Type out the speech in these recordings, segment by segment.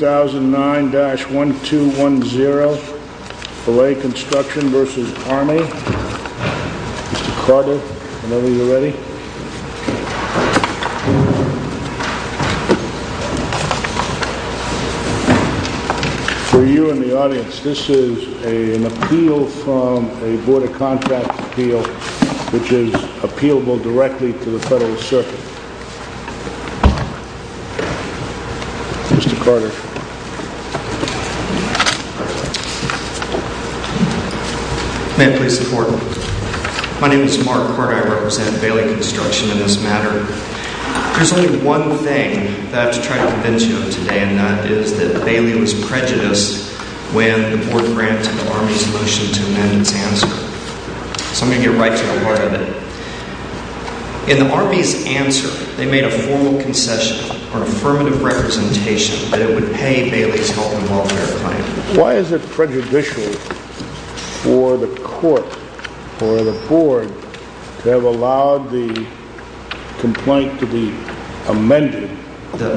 2009-1210 Beyley Construction v. Army Mr. Carter, whenever you're ready For you in the audience, this is an appeal from a Board of Contracts appeal which is appealable directly to the Federal Circuit Mr. Carter May it please the Court My name is Mark Carter, I represent Beyley Construction in this matter There's only one thing that I have to try to convince you of today and that is that Beyley was prejudiced when the Board granted Army's motion to amend its answer So I'm going to get right to the heart of it In the Army's answer, they made a formal concession or affirmative representation that it would pay Beyley's health and welfare claim Why is it prejudicial for the Court or the Board to have allowed the complaint to be amended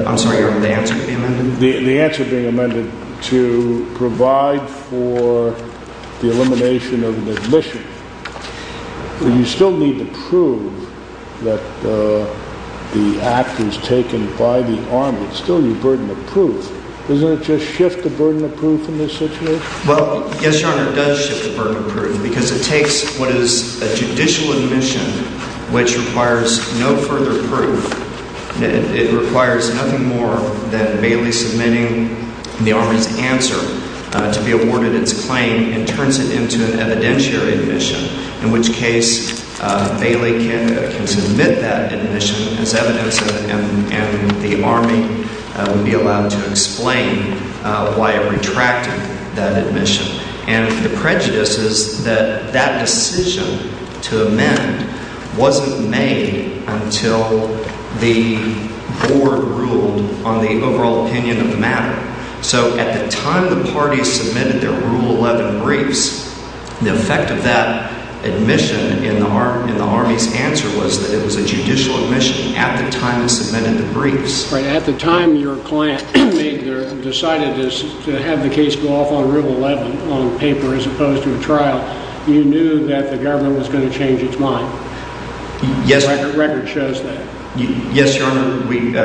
I'm sorry, the answer being amended? The answer being amended to provide for the elimination of the admission You still need to prove that the act was taken by the Army It's still your burden of proof Doesn't it just shift the burden of proof in this situation? Well, yes, Your Honor, it does shift the burden of proof because it takes what is a judicial admission which requires no further proof It requires nothing more than Beyley submitting the Army's answer to be awarded its claim and turns it into an evidentiary admission in which case Beyley can submit that admission as evidence and the Army would be allowed to explain why it retracted that admission and the prejudice is that that decision to amend wasn't made until the Board ruled on the overall opinion of the matter So at the time the parties submitted their Rule 11 briefs the effect of that admission in the Army's answer was that it was a judicial admission at the time they submitted the briefs At the time your client decided to have the case go off on Rule 11 on paper as opposed to a trial you knew that the government was going to change its mind The record shows that Yes, Your Honor,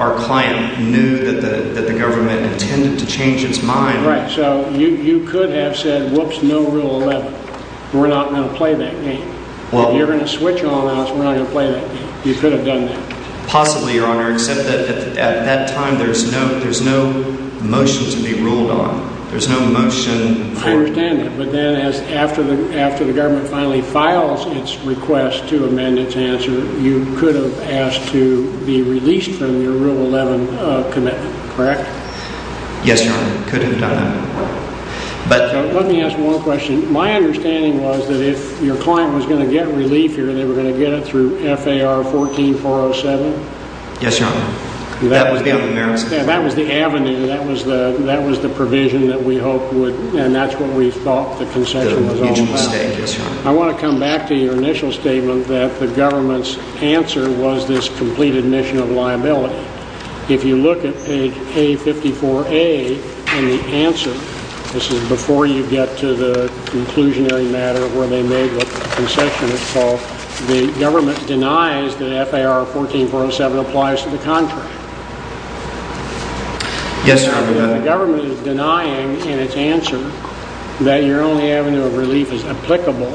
our client knew that the government intended to change its mind Right, so you could have said, whoops, no Rule 11, we're not going to play that game Well You're going to switch on us, we're not going to play that game You could have done that Possibly, Your Honor, except that at that time there's no motion to be ruled on There's no motion I understand that, but then after the government finally files its request to amend its answer you could have asked to be released from your Rule 11 commitment, correct? Yes, Your Honor, we could have done that Let me ask one question My understanding was that if your client was going to get relief here, they were going to get it through FAR 14-407? Yes, Your Honor, that would be on the merits That was the avenue, that was the provision that we hoped would, and that's what we thought the concession was all about Yes, Your Honor I want to come back to your initial statement that the government's answer was this complete admission of liability If you look at page A-54A in the answer, this is before you get to the conclusionary matter where they made what the concession is called The government denies that FAR 14-407 applies to the contract Yes, Your Honor If the government is denying in its answer that your only avenue of relief is applicable,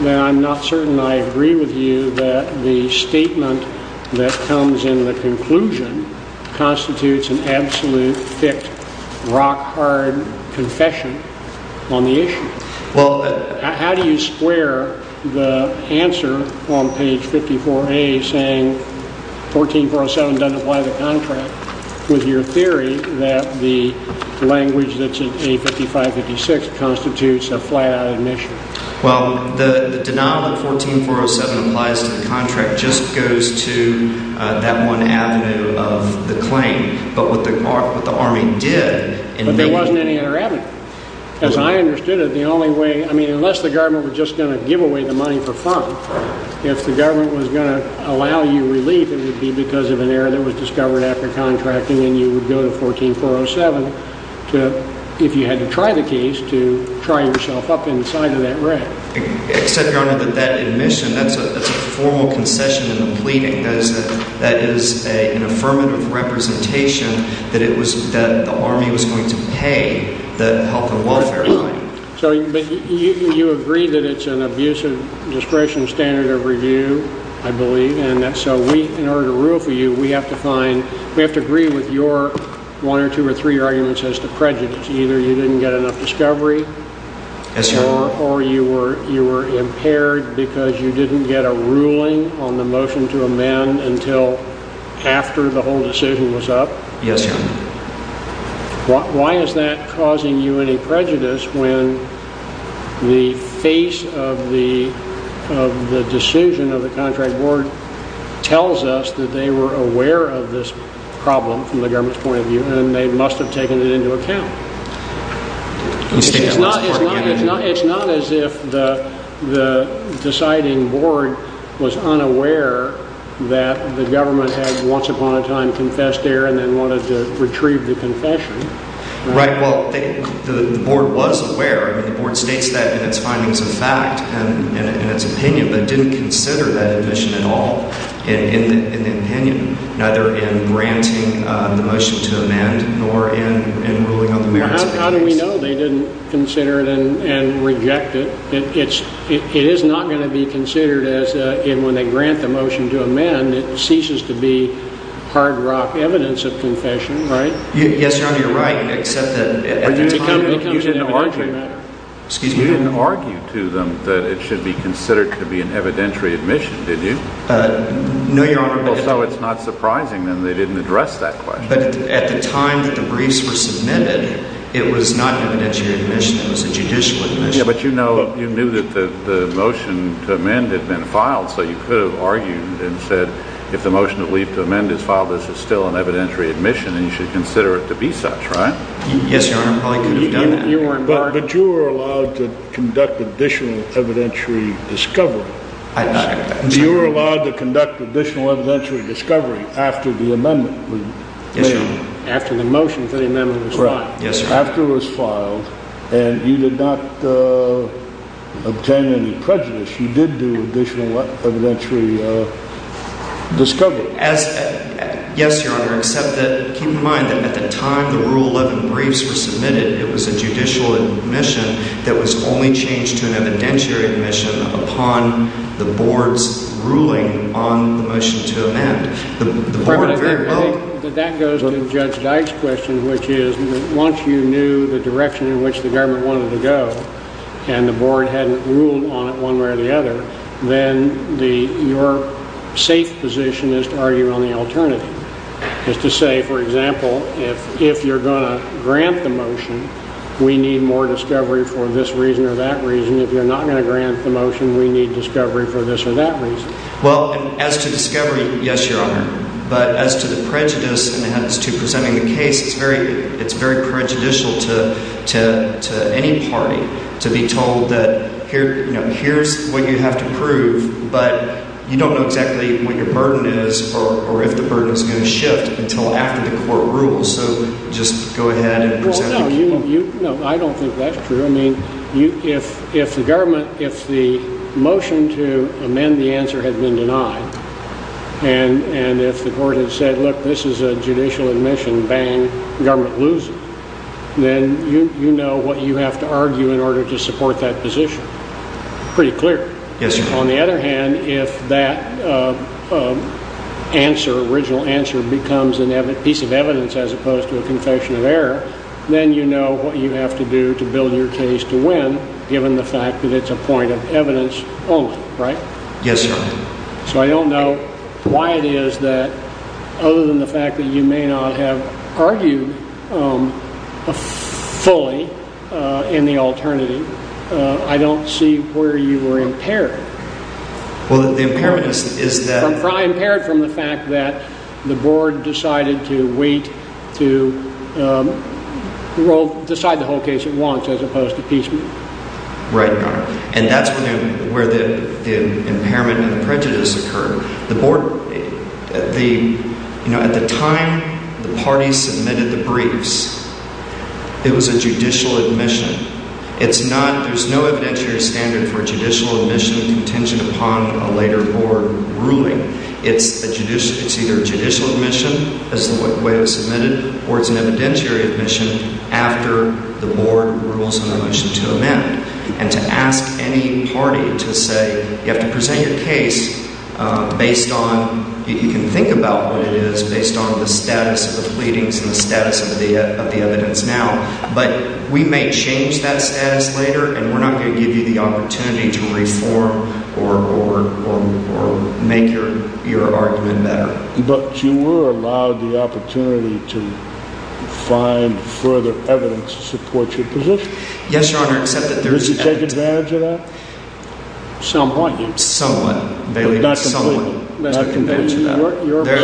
then I'm not certain I agree with you that the statement that comes in the conclusion constitutes an absolute, thick, rock-hard confession on the issue How do you square the answer on page 54A saying FAR 14-407 doesn't apply to the contract with your theory that the language that's in A-55-56 constitutes a flat-out admission? Well, the denial that FAR 14-407 applies to the contract just goes to that one avenue of the claim, but what the Army did But there wasn't any other avenue As I understood it, unless the government was just going to give away the money for fun, if the government was going to allow you relief, it would be because of an error that was discovered after contracting and you would go to FAR 14-407 if you had to try the case to try yourself up inside of that wreck Except, Your Honor, that that admission, that's a formal concession in the pleading, that is an affirmative representation that the Army was going to pay the health and welfare line You agree that it's an abusive discretion standard of review, I believe, and so in order to rule for you, we have to agree with your one or two or three arguments as to prejudice Either you didn't get enough discovery, or you were impaired because you didn't get a ruling on the motion to amend until after the whole decision was up Yes, Your Honor Why is that causing you any prejudice when the face of the decision of the contract board tells us that they were aware of this problem from the government's point of view and they must have taken it into account It's not as if the deciding board was unaware that the government had once upon a time confessed error and then wanted to retrieve the confession Right, well, the board was aware. The board states that in its findings of fact and in its opinion, but didn't consider that admission at all in the opinion, neither in granting the motion to amend nor in ruling on the merits of the case How do we know they didn't consider it and reject it? It is not going to be considered as, when they grant the motion to amend, it ceases to be hard rock evidence of confession, right? Yes, Your Honor, you're right, except that at the time you didn't argue to them that it should be considered to be an evidentiary admission, did you? No, Your Honor Well, so it's not surprising then they didn't address that question But at the time that the briefs were submitted, it was not an evidentiary admission. It was a judicial admission Yeah, but you knew that the motion to amend had been filed, so you could have argued and said, if the motion to leave to amend is filed, this is still an evidentiary admission and you should consider it to be such, right? Yes, Your Honor, I probably could have done that But you were allowed to conduct additional evidentiary discovery I did not conduct additional You were allowed to conduct additional evidentiary discovery after the amendment was made Yes, Your Honor You did not obtain any prejudice. You did do additional evidentiary discovery Yes, Your Honor, except that, keep in mind that at the time the Rule 11 briefs were submitted, it was a judicial admission that was only changed to an evidentiary admission upon the Board's ruling on the motion to amend That goes to Judge Dyke's question, which is, once you knew the direction in which the government wanted to go and the Board hadn't ruled on it one way or the other, then your safe position is to argue on the alternative Is to say, for example, if you're going to grant the motion, we need more discovery for this reason or that reason. If you're not going to grant the motion, we need discovery for this or that reason Well, as to discovery, yes, Your Honor, but as to the prejudice and as to presenting the case, it's very prejudicial to any party to be told that, you know, here's what you have to prove, but you don't know exactly what your burden is or if the burden is going to shift until after the court rules Well, no, I don't think that's true. I mean, if the government, if the motion to amend the answer had been denied and if the court had said, look, this is a judicial admission, bang, government loses, then you know what you have to argue in order to support that position. Pretty clear On the other hand, if that answer, original answer becomes a piece of evidence as opposed to a confession of error, then you know what you have to do to build your case to win given the fact that it's a point of evidence only, right? Yes, Your Honor So I don't know why it is that other than the fact that you may not have argued fully in the alternative, I don't see where you were impaired. Well, the impairment is that Probably impaired from the fact that the board decided to wait to decide the whole case at once as opposed to piecemeal Right, Your Honor. And that's where the impairment and the prejudice occurred. The board, the, you know, at the time the parties submitted the briefs, it was a judicial admission. It's not, there's no evidentiary standard for judicial admission contingent upon a later board ruling. It's a judicial, it's either judicial admission as the way it was submitted or it's an evidentiary admission after the board rules on a motion to amend. And to ask any party to say, you have to present your case based on, you can think about what it is based on the status of the pleadings and the status of the evidence now, but we may change that status later and we're not going to give you the opportunity to reform or make your argument better. But you were allowed the opportunity to find further evidence to support your position? Yes, Your Honor. Did you take advantage of that? Somewhat. Somewhat. Not completely.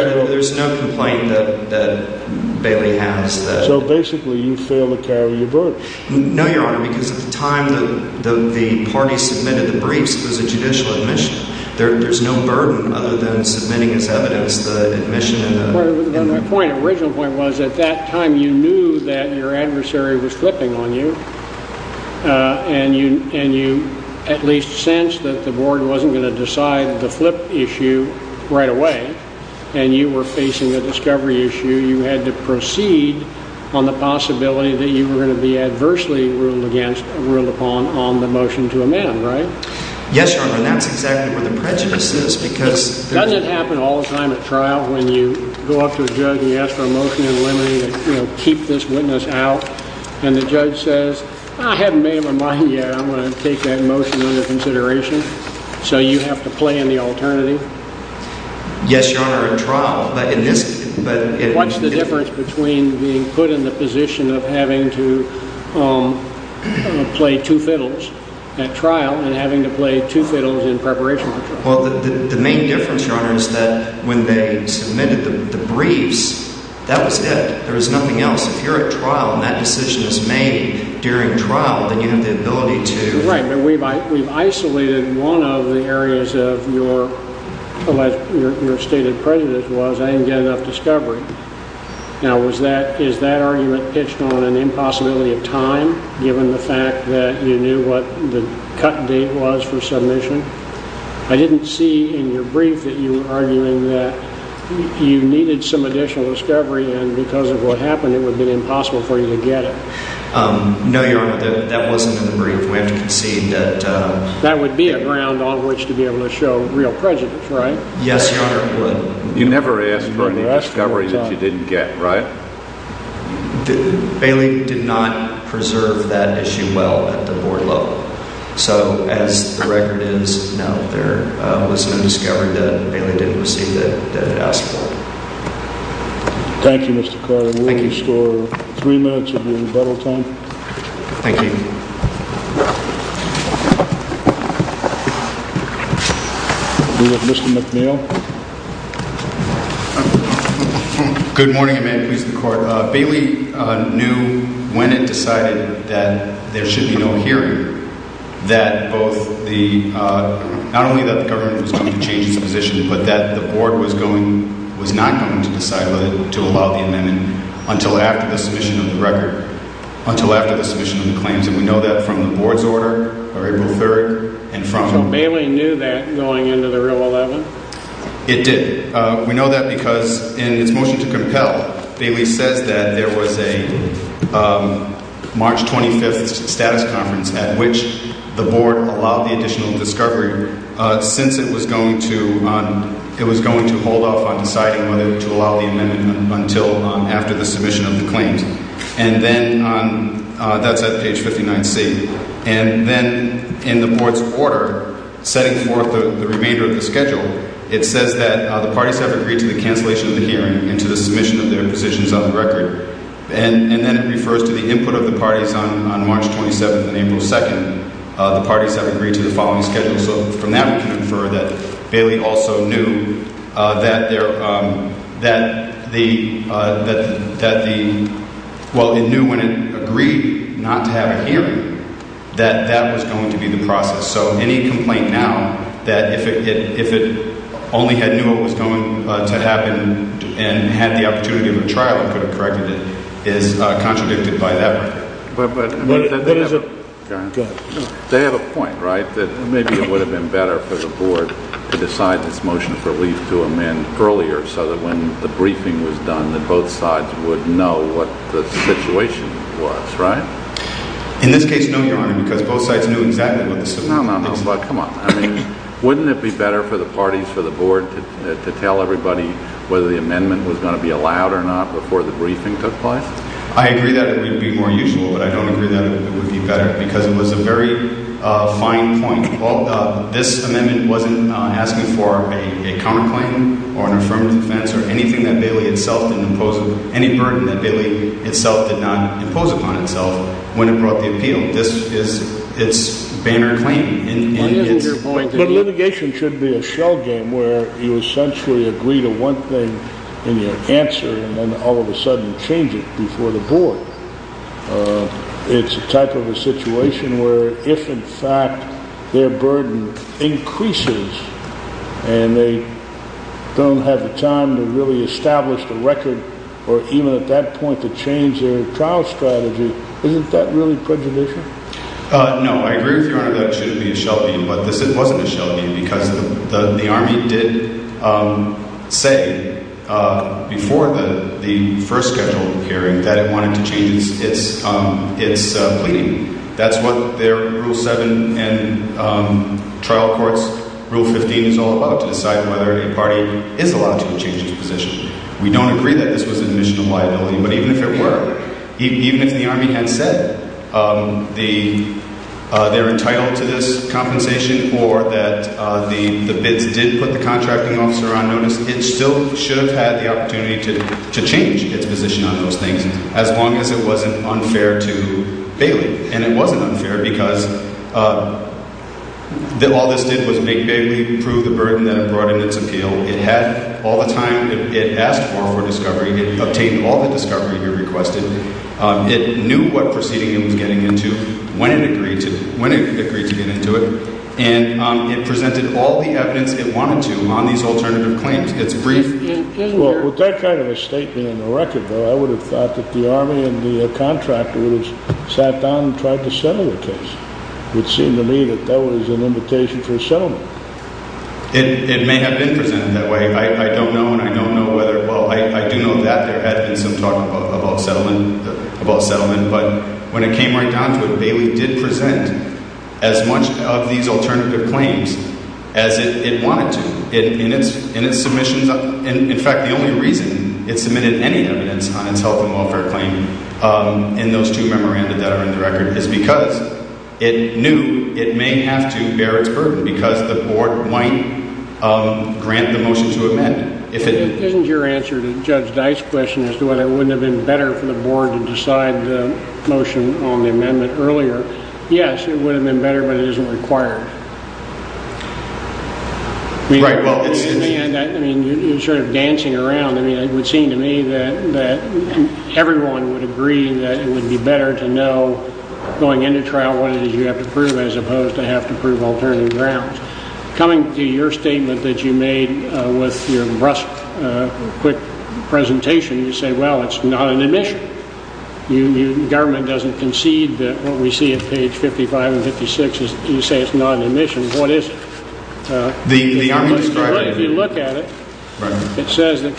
There's no complaint that Bailey has. So basically you failed to carry your burden. No, Your Honor, because at the time the parties submitted the briefs, it was a judicial admission. There's no burden other than submitting as evidence the admission. My original point was at that time you knew that your adversary was flipping on you, and you at least sensed that the board wasn't going to decide the flip issue right away, and you were facing a discovery issue. You had to proceed on the possibility that you were going to be adversely ruled upon on the motion to amend, right? Yes, Your Honor, and that's exactly where the prejudice is because… …we go up to a judge and we ask for a motion in limine to keep this witness out, and the judge says, I haven't made up my mind yet. I'm going to take that motion under consideration. So you have to play in the alternative? Yes, Your Honor, at trial. What's the difference between being put in the position of having to play two fiddles at trial and having to play two fiddles in preparation for trial? Well, the main difference, Your Honor, is that when they submitted the briefs, that was it. There was nothing else. If you're at trial and that decision is made during trial, then you have the ability to… Right, but we've isolated one of the areas of your stated prejudice was I didn't get enough discovery. Now, is that argument pitched on an impossibility of time, given the fact that you knew what the cut date was for submission? I didn't see in your brief that you were arguing that you needed some additional discovery, and because of what happened, it would have been impossible for you to get it. No, Your Honor, that wasn't in the brief. We have to concede that… That would be a ground on which to be able to show real prejudice, right? Yes, Your Honor, it would. You never asked for any discovery that you didn't get, right? Bailey did not preserve that issue well at the board level. So, as the record is, no, there was no discovery that Bailey didn't receive that he asked for. Thank you, Mr. Carter. We'll restore three minutes of your rebuttal time. Thank you. We'll go to Mr. McNeil. Good morning, and may it please the Court. Bailey knew when it decided that there should be no hearing that both the… not only that the government was going to change its position, but that the board was going… was not going to decide to allow the amendment until after the submission of the record… until after the submission of the claims. And we know that from the board's order by April 3rd, and from… So, Bailey knew that going into the Rule 11? It did. We know that because in its motion to compel, Bailey says that there was a March 25th status conference at which the board allowed the additional discovery since it was going to… it was going to hold off on deciding whether to allow the amendment until after the submission of the claims. And then on… that's at page 59C. And then in the board's order, setting forth the remainder of the schedule, it says that the parties have agreed to the cancellation of the hearing and to the submission of their positions on the record. And then it refers to the input of the parties on March 27th and April 2nd. The parties have agreed to the following schedule. So, from that we can infer that Bailey also knew that there… that the… that the… well, it knew when it agreed not to have a hearing that that was going to be the process. So, any complaint now that if it… if it only had knew what was going to happen and had the opportunity of a trial and could have corrected it is contradicted by that. But… but… There is a… Go ahead. They have a point, right, that maybe it would have been better for the board to decide this motion for relief to amend earlier so that when the briefing was done that both sides would know what the situation was, right? In this case, no, Your Honor, because both sides knew exactly what the situation was. No, no, no, but come on. I mean, wouldn't it be better for the parties, for the board to tell everybody whether the amendment was going to be allowed or not before the briefing took place? I agree that it would be more usual, but I don't agree that it would be better because it was a very fine point. Well, this amendment wasn't asking for a counterclaim or an affirmative defense or anything that Bailey itself didn't impose… any burden that Bailey itself did not impose upon itself when it brought the appeal. This is… it's banner claim and it's… But litigation should be a shell game where you essentially agree to one thing and you answer and then all of a sudden change it before the board. It's a type of a situation where if in fact their burden increases and they don't have the time to really establish the record or even at that point to change their trial strategy, isn't that really prejudicial? No, I agree with Your Honor that it shouldn't be a shell game, but this wasn't a shell game because the Army did say before the first scheduled hearing that it wanted to change its pleading. That's what their Rule 7 and trial courts… Rule 15 is all about, to decide whether a party is allowed to change its position. We don't agree that this was an admission of liability, but even if it were, even if the Army had said they're entitled to this compensation or that the bids did put the contracting officer on notice, it still should have had the opportunity to change its position on those things as long as it wasn't unfair to Bailey. And it wasn't unfair because all this did was make Bailey prove the burden that it brought in its appeal. It had all the time it asked for for discovery. It obtained all the discovery it requested. It knew what proceeding it was getting into, when it agreed to get into it, and it presented all the evidence it wanted to on these alternative claims. Well, with that kind of a statement in the record, though, I would have thought that the Army and the contractor would have sat down and tried to settle the case. It would seem to me that that was an invitation for a settlement. It may have been presented that way. I don't know, and I don't know whether… Well, I do know that there had been some talk about settlement, but when it came right down to it, Bailey did present as much of these alternative claims as it wanted to. In fact, the only reason it submitted any evidence on its health and welfare claim in those two memoranda that are in the record is because it knew it may have to bear its burden because the board might grant the motion to amend it. Isn't your answer to Judge Dice's question as to whether it wouldn't have been better for the board to decide the motion on the amendment earlier, yes, it would have been better, but it isn't required. You're sort of dancing around. It would seem to me that everyone would agree that it would be better to know going into trial what it is you have to prove as opposed to have to prove alternative grounds. Coming to your statement that you made with your brusque, quick presentation, you say, well, it's not an admission. The government doesn't concede that what we see at page 55 and 56, you say it's not an admission. What is it? If you look at it, it says the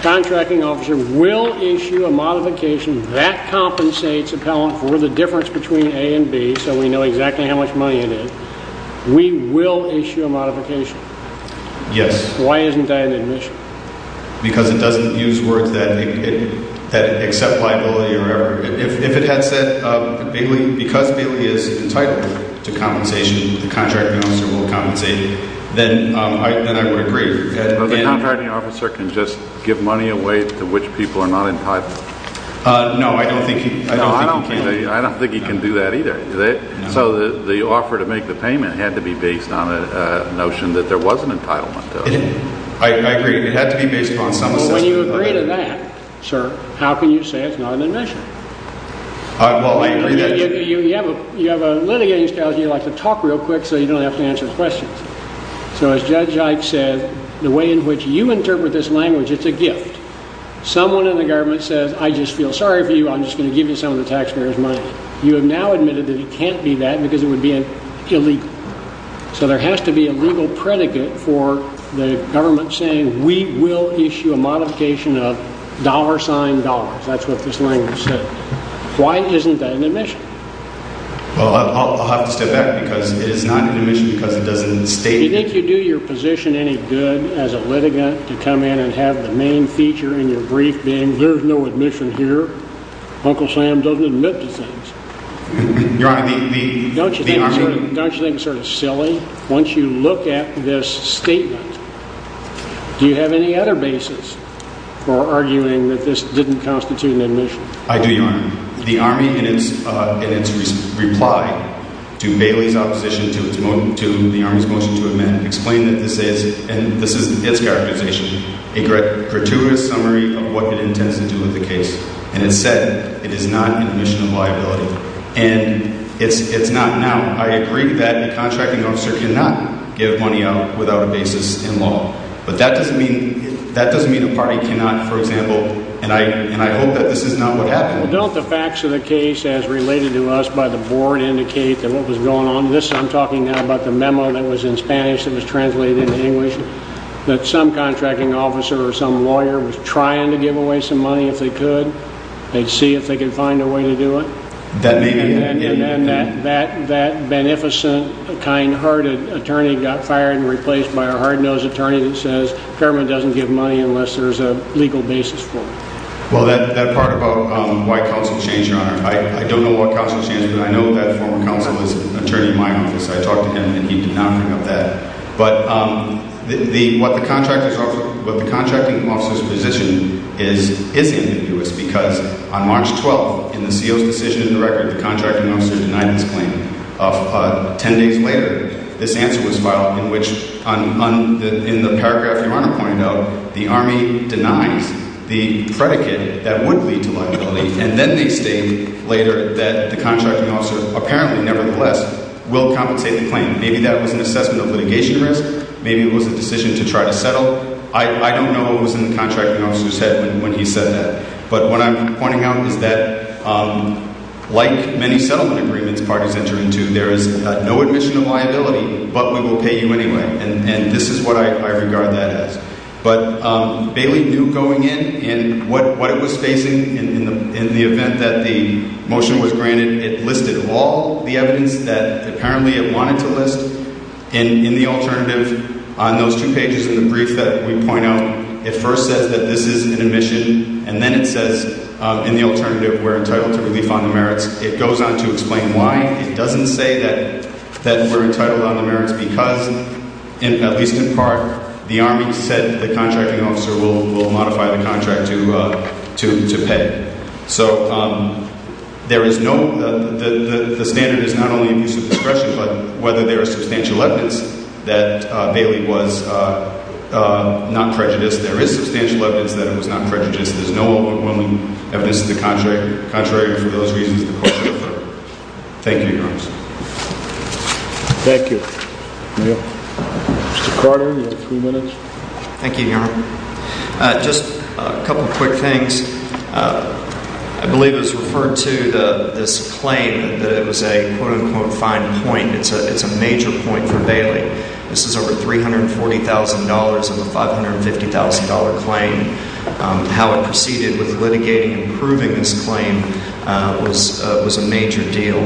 contracting officer will issue a modification that compensates appellant for the difference between A and B so we know exactly how much money it is. We will issue a modification. Why isn't that an admission? Because it doesn't use words that accept liability or whatever. If it had said because Bailey is entitled to compensation, the contracting officer will compensate, then I would agree. But the contracting officer can just give money away to which people are not entitled. No, I don't think he can. I don't think he can do that either. So the offer to make the payment had to be based on a notion that there was an entitlement to it. I agree. It had to be based on some assessment. But when you agree to that, sir, how can you say it's not an admission? Well, I agree that... You have a litigating strategy. You like to talk real quick so you don't have to answer questions. So as Judge Ike said, the way in which you interpret this language, it's a gift. Someone in the government says, I just feel sorry for you. I'm just going to give you some of the taxpayers' money. You have now admitted that it can't be that because it would be illegal. So there has to be a legal predicate for the government saying we will issue a modification of dollar sign dollars. That's what this language says. Why isn't that an admission? Well, I'll have to step back because it is not an admission because it doesn't state... Do you think you do your position any good as a litigant to come in and have the main feature in your brief being there's no admission here? Uncle Sam doesn't admit to things. Your Honor, the... Don't you think it's sort of silly? Once you look at this statement, do you have any other basis for arguing that this didn't constitute an admission? I do, Your Honor. The Army in its reply to Bailey's opposition to the Army's motion to amend explained that this is, and this is its characterization, a gratuitous summary of what it intends to do with the case. And it said it is not an admission of liability. And it's not now. I agree that a contracting officer cannot give money out without a basis in law. But that doesn't mean a party cannot, for example, and I hope that this is not what happened. Well, don't the facts of the case as related to us by the board indicate that what was going on, this I'm talking now about the memo that was in Spanish that was translated into English, that some contracting officer or some lawyer was trying to give away some money if they could. They'd see if they could find a way to do it. That may be... And then that beneficent, kind-hearted attorney got fired and replaced by a hard-nosed attorney that says government doesn't give money unless there's a legal basis for it. Well, that part about why counsel changed, Your Honor, I don't know what counsel changed, but I know that former counsel is an attorney in my office. I talked to him and he did not bring up that. But what the contracting officer's position is ambiguous because on March 12th, in the CO's decision in the record, the contracting officer denied this claim. Ten days later, this answer was filed in which, in the paragraph Your Honor pointed out, the Army denies the predicate that would lead to liability, and then they state later that the contracting officer apparently nevertheless will compensate the claim. Maybe that was an assessment of litigation risk. Maybe it was a decision to try to settle. I don't know what was in the contracting officer's head when he said that. But what I'm pointing out is that, like many settlement agreements parties enter into, there is no admission of liability, but we will pay you anyway. And this is what I regard that as. But Bailey knew going in, and what it was facing in the event that the motion was granted, it listed all the evidence that apparently it wanted to list. In the alternative, on those two pages in the brief that we point out, it first says that this is an admission, and then it says, in the alternative, we're entitled to relief on the merits. It goes on to explain why. It doesn't say that we're entitled on the merits because, at least in part, the Army said the contracting officer will modify the contract to pay. So there is no – the standard is not only abuse of discretion, but whether there is substantial evidence that Bailey was not prejudiced, there is substantial evidence that it was not prejudiced. There's no overwhelming evidence to the contrary. Contrary for those reasons, the court should defer. Thank you, Your Honor. Thank you. Mr. Carter, you have three minutes. Thank you, Your Honor. Just a couple of quick things. I believe it was referred to, this claim, that it was a quote-unquote fine point. It's a major point for Bailey. This is over $340,000 of a $550,000 claim. How it proceeded with litigating and approving this claim was a major deal.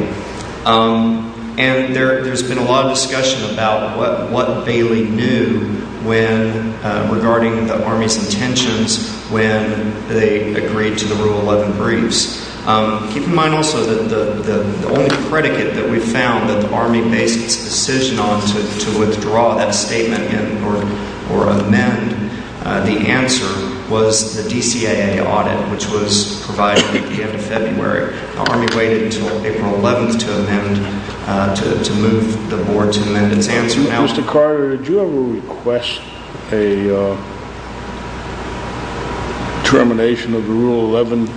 And there's been a lot of discussion about what Bailey knew when – regarding the Army's intentions when they agreed to the Rule 11 briefs. Keep in mind also that the only predicate that we found that the Army based its decision on to withdraw that statement or amend, the answer was the DCAA audit, which was provided at the end of February. The Army waited until April 11th to amend – to move the board to amend its answer. Mr. Carter, did you ever request a termination of the Rule 11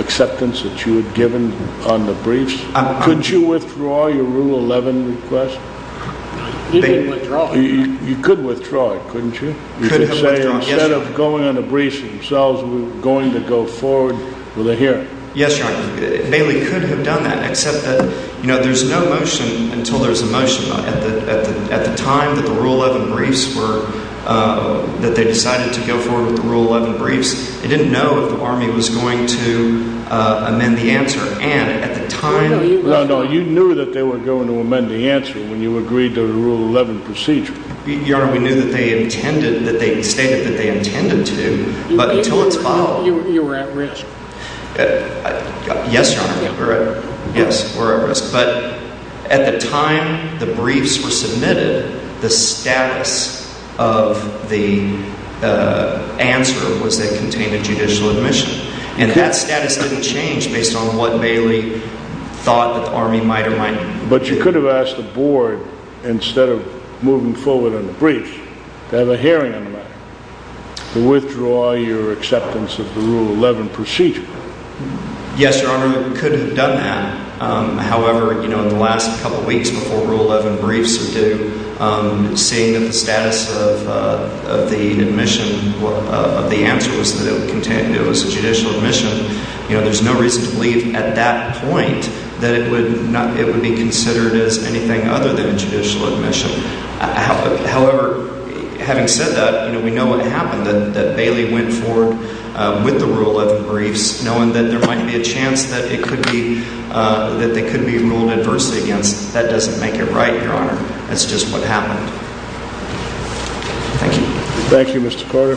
acceptance that you had given on the briefs? Couldn't you withdraw your Rule 11 request? We didn't withdraw it, Your Honor. You could withdraw it, couldn't you? We could have withdrawn it, yes, Your Honor. You could say, instead of going on the briefs themselves, we're going to go forward with a hearing. Yes, Your Honor. Bailey could have done that, except that, you know, there's no motion until there's a motion. At the time that the Rule 11 briefs were – that they decided to go forward with the Rule 11 briefs, they didn't know if the Army was going to amend the answer. And at the time – No, no, you knew that they were going to amend the answer when you agreed to the Rule 11 procedure. Your Honor, we knew that they intended – that they stated that they intended to, but until it's followed – You were at risk. Yes, Your Honor, we were at risk. But at the time the briefs were submitted, the status of the answer was that it contained a judicial admission. And that status didn't change based on what Bailey thought that the Army might or might not do. But you could have asked the Board, instead of moving forward on the briefs, to have a hearing on the matter. Withdraw your acceptance of the Rule 11 procedure. Yes, Your Honor, we could have done that. However, you know, in the last couple of weeks before Rule 11 briefs were due, seeing that the status of the admission – of the answer was that it contained – it was a judicial admission, you know, there's no reason to believe at that point that it would not – it would be considered as anything other than a judicial admission. However, having said that, you know, we know what happened. That Bailey went forward with the Rule 11 briefs, knowing that there might be a chance that it could be – that they could be ruled adversely against. That doesn't make it right, Your Honor. That's just what happened. Thank you. Thank you, Mr. Carter.